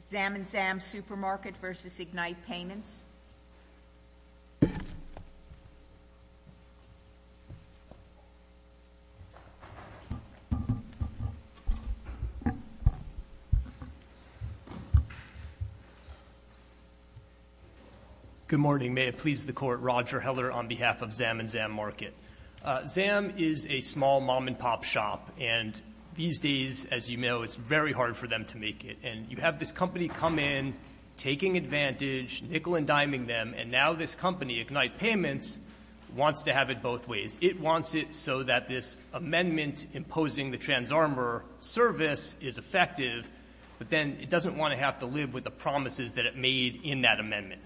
Zam & Zam Supermarket v. Ignite Payments. Good morning. May it please the Court, Roger Heller on behalf of Zam & Zam Market. Zam is a small mom-and-pop shop and these days, as you know, it's very hard for them to make it. And you have this company come in, taking advantage, nickel-and-diming them, and now this company, Ignite Payments, wants to have it both ways. It wants it so that this amendment imposing the TransArmor service is effective, but then it doesn't want to have to live with the promises that it made in that amendment.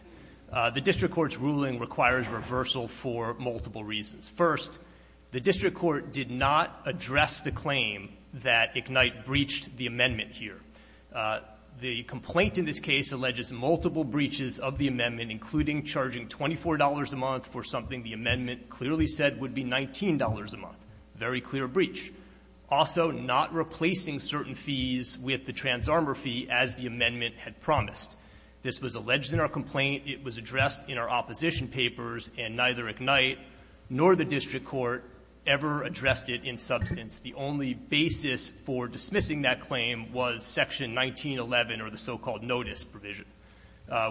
The district court's ruling requires reversal for multiple reasons. First, the district court did not address the claim that Ignite breached the amendment here. The complaint in this case alleges multiple breaches of the amendment, including charging $24 a month for something the amendment clearly said would be $19 a month, a very clear breach. Also, not replacing certain fees with the TransArmor fee as the amendment had promised. This was alleged in our complaint. It was addressed in our opposition papers, and neither Ignite nor the district court ever addressed it in substance. The only basis for dismissing that claim was Section 1911 or the so-called notice provision,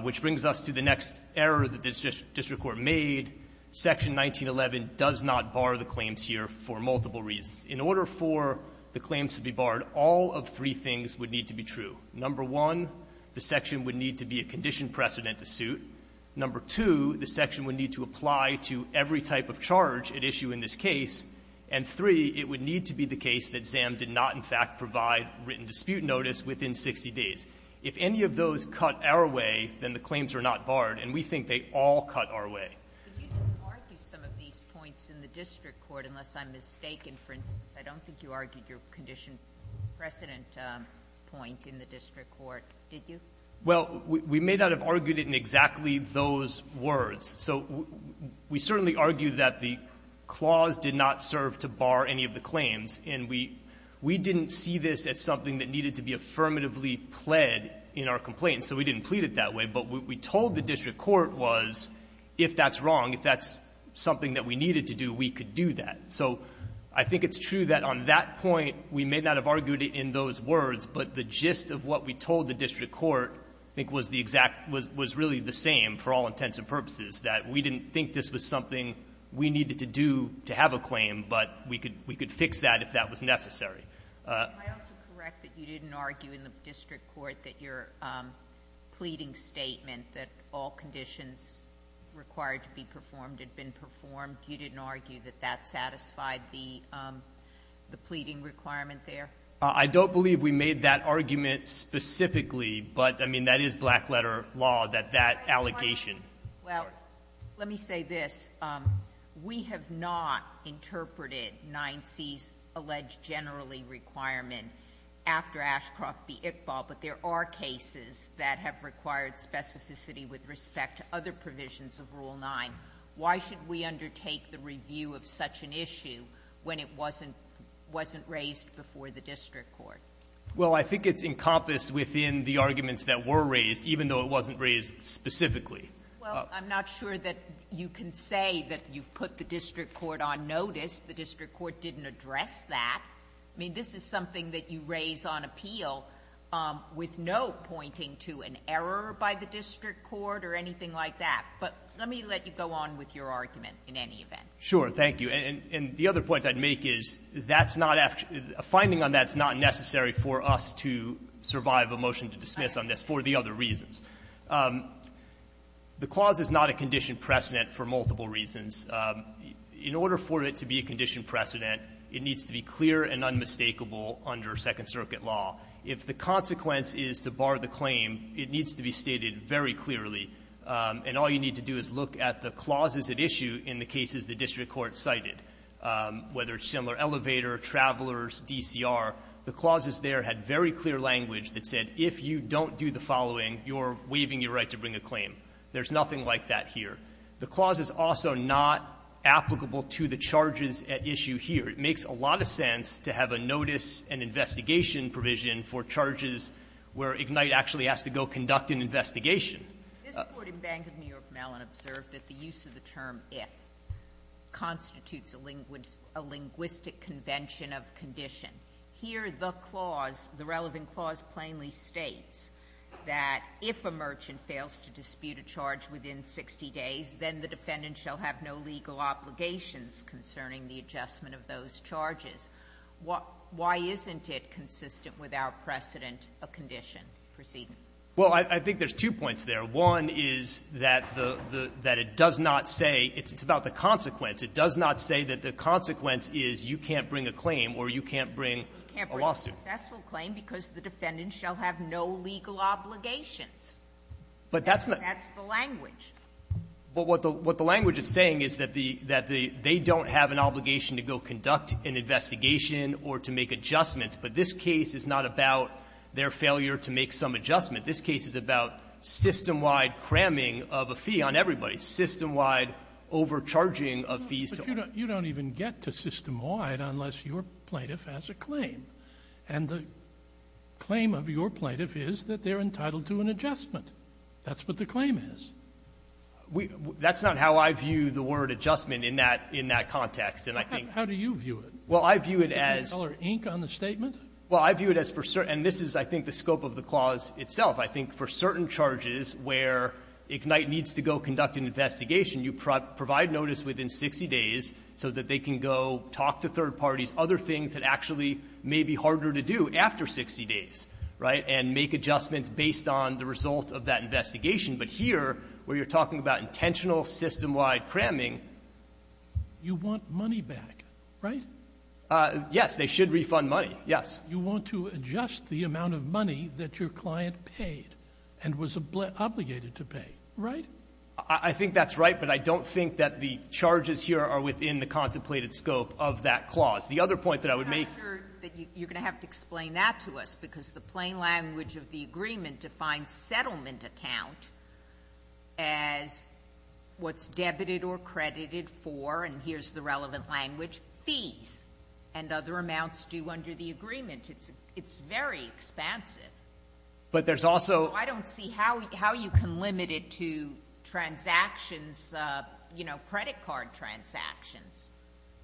which brings us to the next error that the district court made. Section 1911 does not bar the claims here for multiple reasons. In order for the claims to be barred, all of three things would need to be true. Number one, the section would need to be a condition precedent to suit. Number two, the section would need to apply to every type of charge at issue in this case. And three, it would need to be the case that ZAM did not, in fact, provide written dispute notice within 60 days. If any of those cut our way, then the claims are not barred, and we think they all cut our way. Ginsburg. But you didn't argue some of these points in the district court, unless I'm mistaken. For instance, I don't think you argued your condition precedent point in the district court, did you? Well, we may not have argued it in exactly those words. So we certainly argued that the clause did not serve to bar any of the claims, and we didn't see this as something that needed to be affirmatively pled in our complaint, so we didn't plead it that way. But what we told the district court was, if that's wrong, if that's something that we needed to do, we could do that. So I think it's true that on that point, we may not have argued it in those words, but the gist of what we told the district court, I think, was the exact — was really the same for all intents and purposes, that we didn't think this was something we needed to do to have a claim, but we could fix that if that was necessary. Can I also correct that you didn't argue in the district court that your pleading statement that all conditions required to be performed had been performed, you didn't argue that that satisfied the pleading requirement there? I don't believe we made that argument specifically, but, I mean, that is black-letter law, that that allocation — Well, let me say this. We have not interpreted 9C's alleged generally requirement after Ashcroft v. Iqbal, but there are cases that have required specificity with respect to other provisions of Rule 9. Why should we undertake the review of such an issue when it wasn't — wasn't raised before the district court? Well, I think it's encompassed within the arguments that were raised, even though it wasn't raised specifically. Well, I'm not sure that you can say that you've put the district court on notice. The district court didn't address that. I mean, this is something that you raise on appeal with no pointing to an error by the district court or anything like that. But let me let you go on with your argument in any event. Sure. Thank you. And the other point I'd make is that's not — a finding on that's not necessary for us to survive a motion to dismiss on this for the other reasons. The clause is not a condition precedent for multiple reasons. In order for it to be a condition precedent, it needs to be clear and unmistakable under Second Circuit law. If the consequence is to bar the claim, it needs to be stated very clearly. And all you need to do is look at the clauses at issue in the cases the district court cited, whether it's similar elevator, travelers, DCR. The clauses there had very clear language that said if you don't do the following, you're waiving your right to bring a claim. There's nothing like that here. The clause is also not applicable to the charges at issue here. It makes a lot of sense to have a notice and investigation provision for charges where Ignite actually has to go conduct an investigation. This Court in Bank of New York Mellon observed that the use of the term if constitutes a linguistic convention of condition. Here the clause, the relevant clause plainly states that if a merchant fails to dispute a charge within 60 days, then the defendant shall have no legal obligations concerning the adjustment of those charges. Why isn't it consistent with our precedent a condition precedent? Well, I think there's two points there. One is that the the that it does not say it's about the consequence. It does not say that the consequence is you can't bring a claim or you can't bring a lawsuit. You can't bring a successful claim because the defendant shall have no legal obligations. But that's not the language. But what the what the language is saying is that the that the they don't have an obligation to go conduct an investigation or to make adjustments. But this case is not about their failure to make some adjustment. This case is about system-wide cramming of a fee on everybody, system-wide overcharging of fees. But you don't even get to system-wide unless your Plaintiff has a claim. And the claim of your Plaintiff is that they're entitled to an adjustment. That's what the claim is. We that's not how I view the word adjustment in that in that context. And I think how do you view it? Well, I view it as ink on the statement. Well, I view it as for certain. This is I think the scope of the clause itself. I think for certain charges where Ignite needs to go conduct an investigation, you provide notice within 60 days so that they can go talk to third parties, other things that actually may be harder to do after 60 days, right? And make adjustments based on the result of that investigation. But here, where you're talking about intentional system-wide cramming. You want money back, right? Yes. They should refund money. Yes. You want to adjust the amount of money that your client paid and was obligated to pay, right? I think that's right, but I don't think that the charges here are within the contemplated scope of that clause. The other point that I would make. I'm not sure that you're going to have to explain that to us because the plain language of the agreement defines settlement account as what's debited or credited for, and here's the relevant language, fees and other amounts due under the agreement. It's very expansive. But there's also. I don't see how you can limit it to transactions, you know, credit card transactions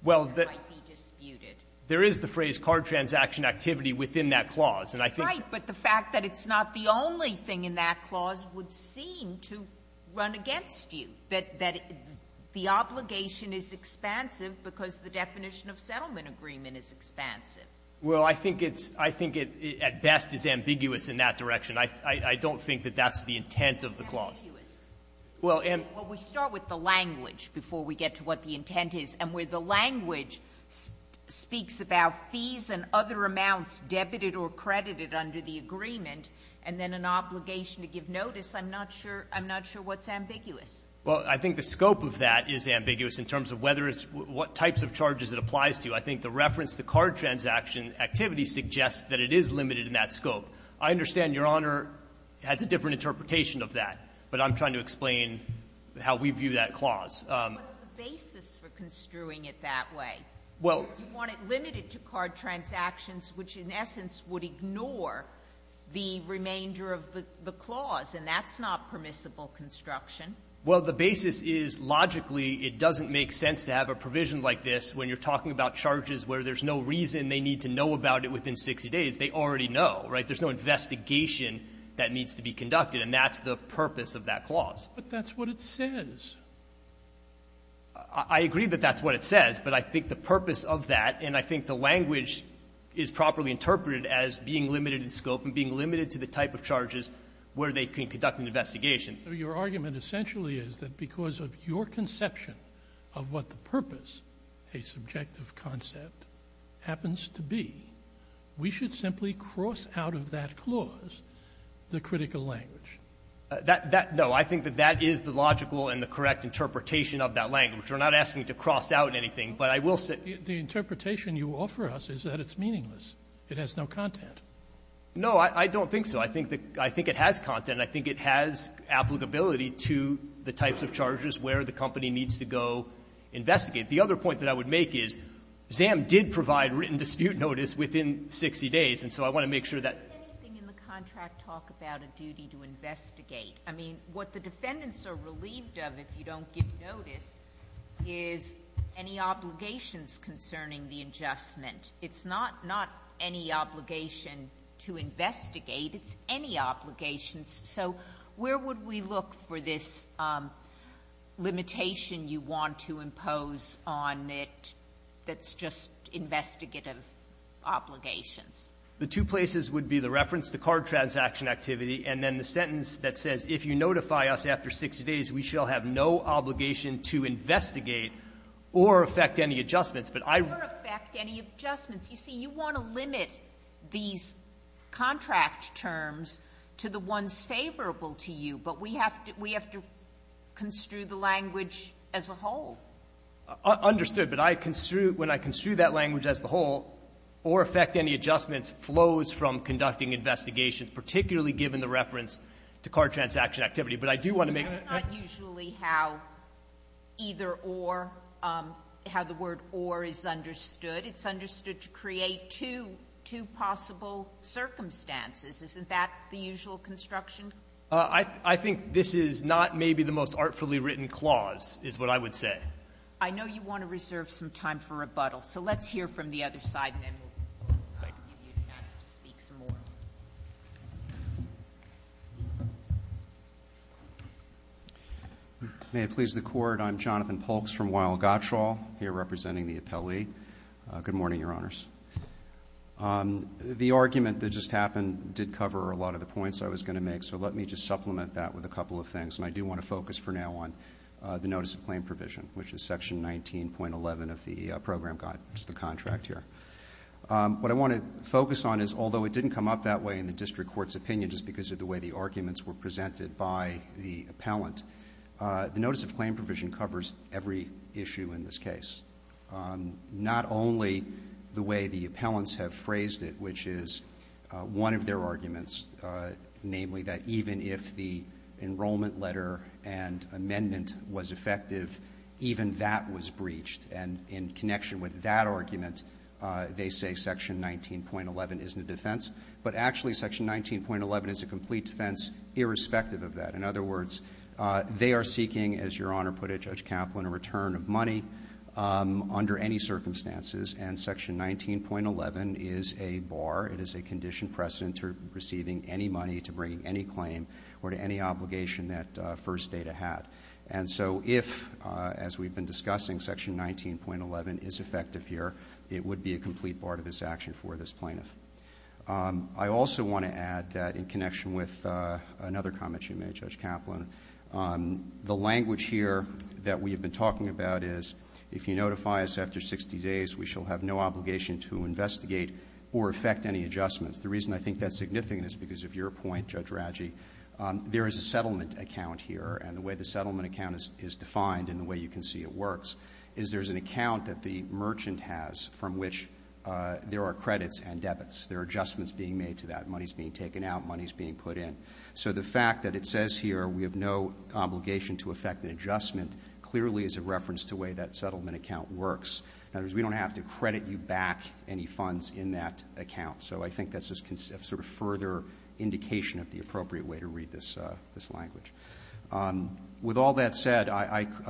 that might be disputed. There is the phrase card transaction activity within that clause, and I think. Right, but the fact that it's not the only thing in that clause would seem to run against you, that the obligation is expansive because the definition of settlement agreement is expansive. Well, I think it's. I think it at best is ambiguous in that direction. I don't think that that's the intent of the clause. Well, we start with the language before we get to what the intent is. And where the language speaks about fees and other amounts debited or credited under the agreement and then an obligation to give notice, I'm not sure what's ambiguous. Well, I think the scope of that is ambiguous in terms of whether it's what types of charges it applies to. I think the reference to card transaction activity suggests that it is limited in that scope. I understand Your Honor has a different interpretation of that, but I'm trying to explain how we view that clause. But what's the basis for construing it that way? Well. You want it limited to card transactions, which in essence would ignore the remainder of the clause, and that's not permissible construction. Well, the basis is logically it doesn't make sense to have a provision like this when you're talking about charges where there's no reason they need to know about it within 60 days. They already know, right? But there's no investigation that needs to be conducted. And that's the purpose of that clause. But that's what it says. I agree that that's what it says, but I think the purpose of that, and I think the language is properly interpreted as being limited in scope and being limited to the type of charges where they can conduct an investigation. a subjective concept happens to be. We should simply cross out of that clause the critical language. That no. I think that that is the logical and the correct interpretation of that language. We're not asking to cross out anything, but I will say. The interpretation you offer us is that it's meaningless. It has no content. No, I don't think so. I think it has content. I think it has applicability to the types of charges where the company needs to go investigate. The other point that I would make is ZAM did provide written dispute notice within 60 days, and so I want to make sure that. Does anything in the contract talk about a duty to investigate? I mean, what the defendants are relieved of, if you don't give notice, is any obligations concerning the adjustment. It's not any obligation to investigate. It's any obligation. So where would we look for this limitation you want to impose on it that's just investigative obligations? The two places would be the reference to card transaction activity and then the sentence that says, if you notify us after 60 days, we shall have no obligation to investigate or affect any adjustments. But I. Or affect any adjustments. You see, you want to limit these contract terms to the ones favorable to you, but we have to we have to construe the language as a whole. Understood. But I construe, when I construe that language as the whole, or affect any adjustments, flows from conducting investigations, particularly given the reference to card transaction activity. But I do want to make. That's not usually how either or, how the word or is understood. It's understood to create two possible circumstances. Isn't that the usual construction? I think this is not maybe the most artfully written clause, is what I would say. I know you want to reserve some time for rebuttal. So let's hear from the other side, and then we'll give you a chance to speak some more. May it please the Court. I'm Jonathan Polks from Weill-Gottschall, here representing the appellee. Good morning, Your Honors. The argument that just happened did cover a lot of the points I was going to make. So let me just supplement that with a couple of things. And I do want to focus for now on the notice of claim provision, which is section 19.11 of the program guide, which is the contract here. What I want to focus on is, although it didn't come up that way in the district court's opinion, just because of the way the arguments were presented by the appellant, the notice of claim provision covers every issue in this case. Not only the way the appellants have phrased it, which is one of their arguments, namely that even if the enrollment letter and amendment was effective, even that was breached. And in connection with that argument, they say section 19.11 isn't a defense. But actually, section 19.11 is a complete defense irrespective of that. In other words, they are seeking, as Your Honor put it, Judge Kaplan, a return of money. Under any circumstances. And section 19.11 is a bar. It is a condition precedent to receiving any money to bring any claim or to any obligation that First Data had. And so if, as we've been discussing, section 19.11 is effective here, it would be a complete bar to this action for this plaintiff. I also want to add that in connection with another comment you made, Judge Kaplan, the language here that we have been talking about is, if you notify us after 60 days, we shall have no obligation to investigate or effect any adjustments. The reason I think that's significant is because of your point, Judge Raggi, there is a settlement account here. And the way the settlement account is defined and the way you can see it works is there's an account that the merchant has from which there are credits and debits. There are adjustments being made to that. Money is being taken out. Money is being put in. So the fact that it says here we have no obligation to effect an adjustment clearly is a reference to the way that settlement account works. In other words, we don't have to credit you back any funds in that account. So I think that's just sort of further indication of the appropriate way to read this language. With all that said,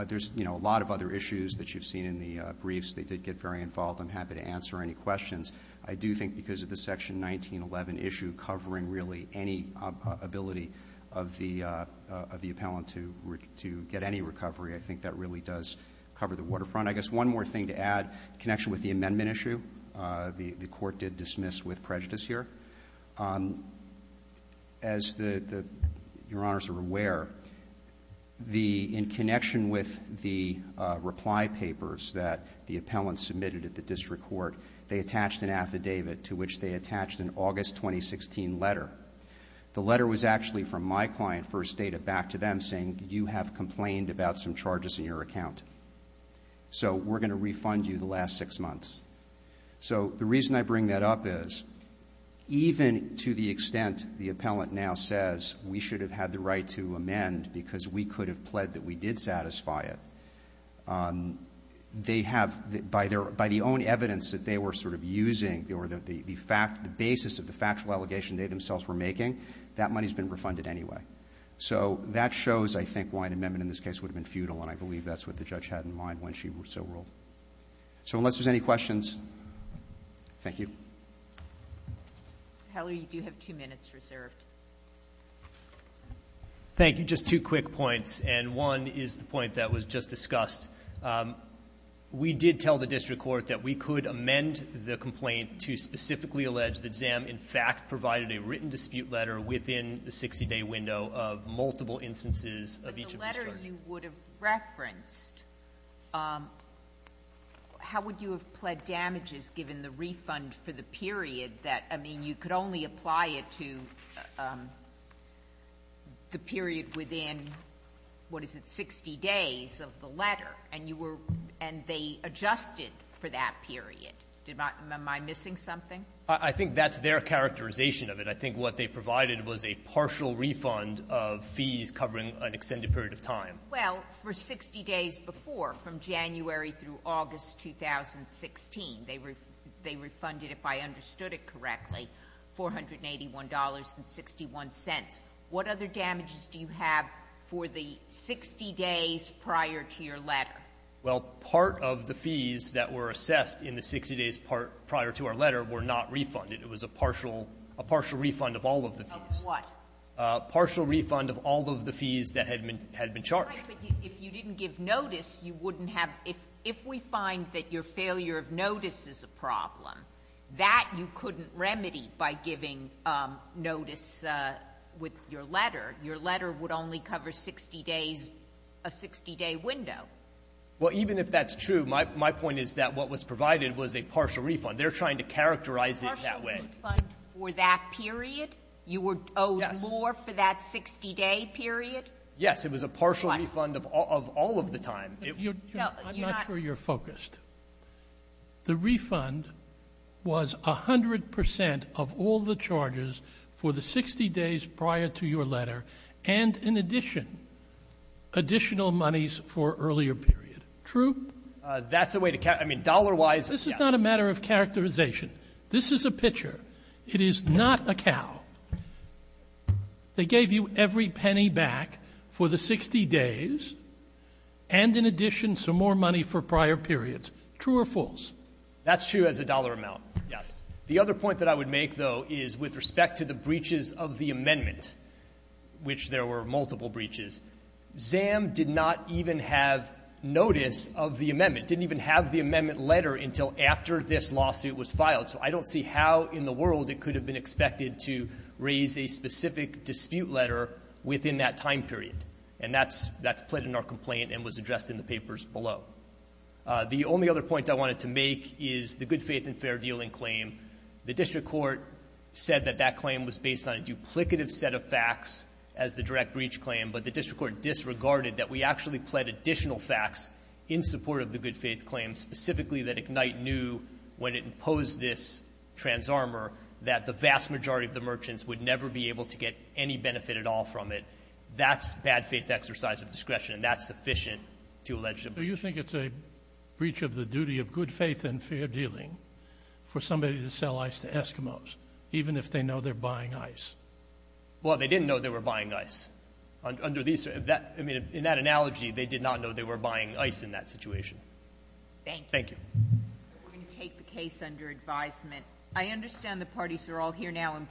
there's, you know, a lot of other issues that you've seen in the briefs. They did get very involved. I'm happy to answer any questions. I do think because of the section 1911 issue covering really any ability of the appellant to get any recovery, I think that really does cover the waterfront. I guess one more thing to add, in connection with the amendment issue, the court did dismiss with prejudice here. As your honors are aware, in connection with the reply papers that the appellant submitted at the district court, they attached an affidavit to which they attached an August 2016 letter. The letter was actually from my client, First Data, back to them saying you have complained about some charges in your account. So we're going to refund you the last six months. So the reason I bring that up is even to the extent the appellant now says we should have had the right to amend because we could have pled that we did satisfy it, they have, by the own evidence that they were sort of using, or the basis of the factual allegation they themselves were making, that money has been refunded anyway. So that shows, I think, why an amendment in this case would have been futile, and I believe that's what the judge had in mind when she so ruled. So unless there's any questions, thank you. Hallie, you do have two minutes reserved. Thank you. Just two quick points, and one is the point that was just discussed. We did tell the district court that we could amend the complaint to specifically allege that ZAM in fact provided a written dispute letter within the 60-day window of multiple instances of each of these charges. But the letter you would have referenced, how would you have pled damages given the refund for the period that, I mean, you could only apply it to the period within, what is it, 60 days of the letter, and you were, and they adjusted for that period. Did my, am I missing something? I think that's their characterization of it. I think what they provided was a partial refund of fees covering an extended period of time. Well, for 60 days before, from January through August 2016, they refunded, if I understood it correctly, $481.61. What other damages do you have for the 60 days prior to your letter? Well, part of the fees that were assessed in the 60 days prior to our letter were not refunded. It was a partial refund of all of the fees. Of what? Partial refund of all of the fees that had been charged. Right. But if you didn't give notice, you wouldn't have, if we find that your failure of notice is a problem, that you couldn't remedy by giving notice with your letter. Your letter would only cover 60 days, a 60-day window. Well, even if that's true, my point is that what was provided was a partial refund. They're trying to characterize it that way. Partial refund for that period? You were owed more for that 60-day period? Yes. It was a partial refund of all of the time. No, you're not. I'm not sure you're focused. The refund was 100% of all the charges for the 60 days prior to your letter, and in addition, additional monies for earlier period. True? That's the way to count. I mean, dollar-wise, yes. This is not a matter of characterization. This is a picture. It is not a cow. They gave you every penny back for the 60 days, and in addition, some more money for prior periods. True or false? That's true as a dollar amount, yes. The other point that I would make, though, is with respect to the breaches of the amendment, which there were multiple breaches, ZAM did not even have notice of the amendment, didn't even have the amendment letter until after this lawsuit was filed. So I don't see how in the world it could have been expected to raise a specific dispute letter within that time period. And that's plit in our complaint and was addressed in the papers below. The only other point I wanted to make is the good faith and fair dealing claim. The district court said that that claim was based on a duplicative set of facts as the direct breach claim. But the district court disregarded that we actually pled additional facts in support of the good faith claim, specifically that Ignite knew when it imposed this trans armor that the vast majority of the merchants would never be able to get any benefit at all from it. That's bad faith exercise of discretion, and that's sufficient to allege a breach. So you think it's a breach of the duty of good faith and fair dealing for somebody to sell ice to Eskimos, even if they know they're buying ice? Well, they didn't know they were buying ice. Under these — I mean, in that analogy, they did not know they were buying ice in that situation. Thank you. We're going to take the case under advisement. I understand the parties are all here now.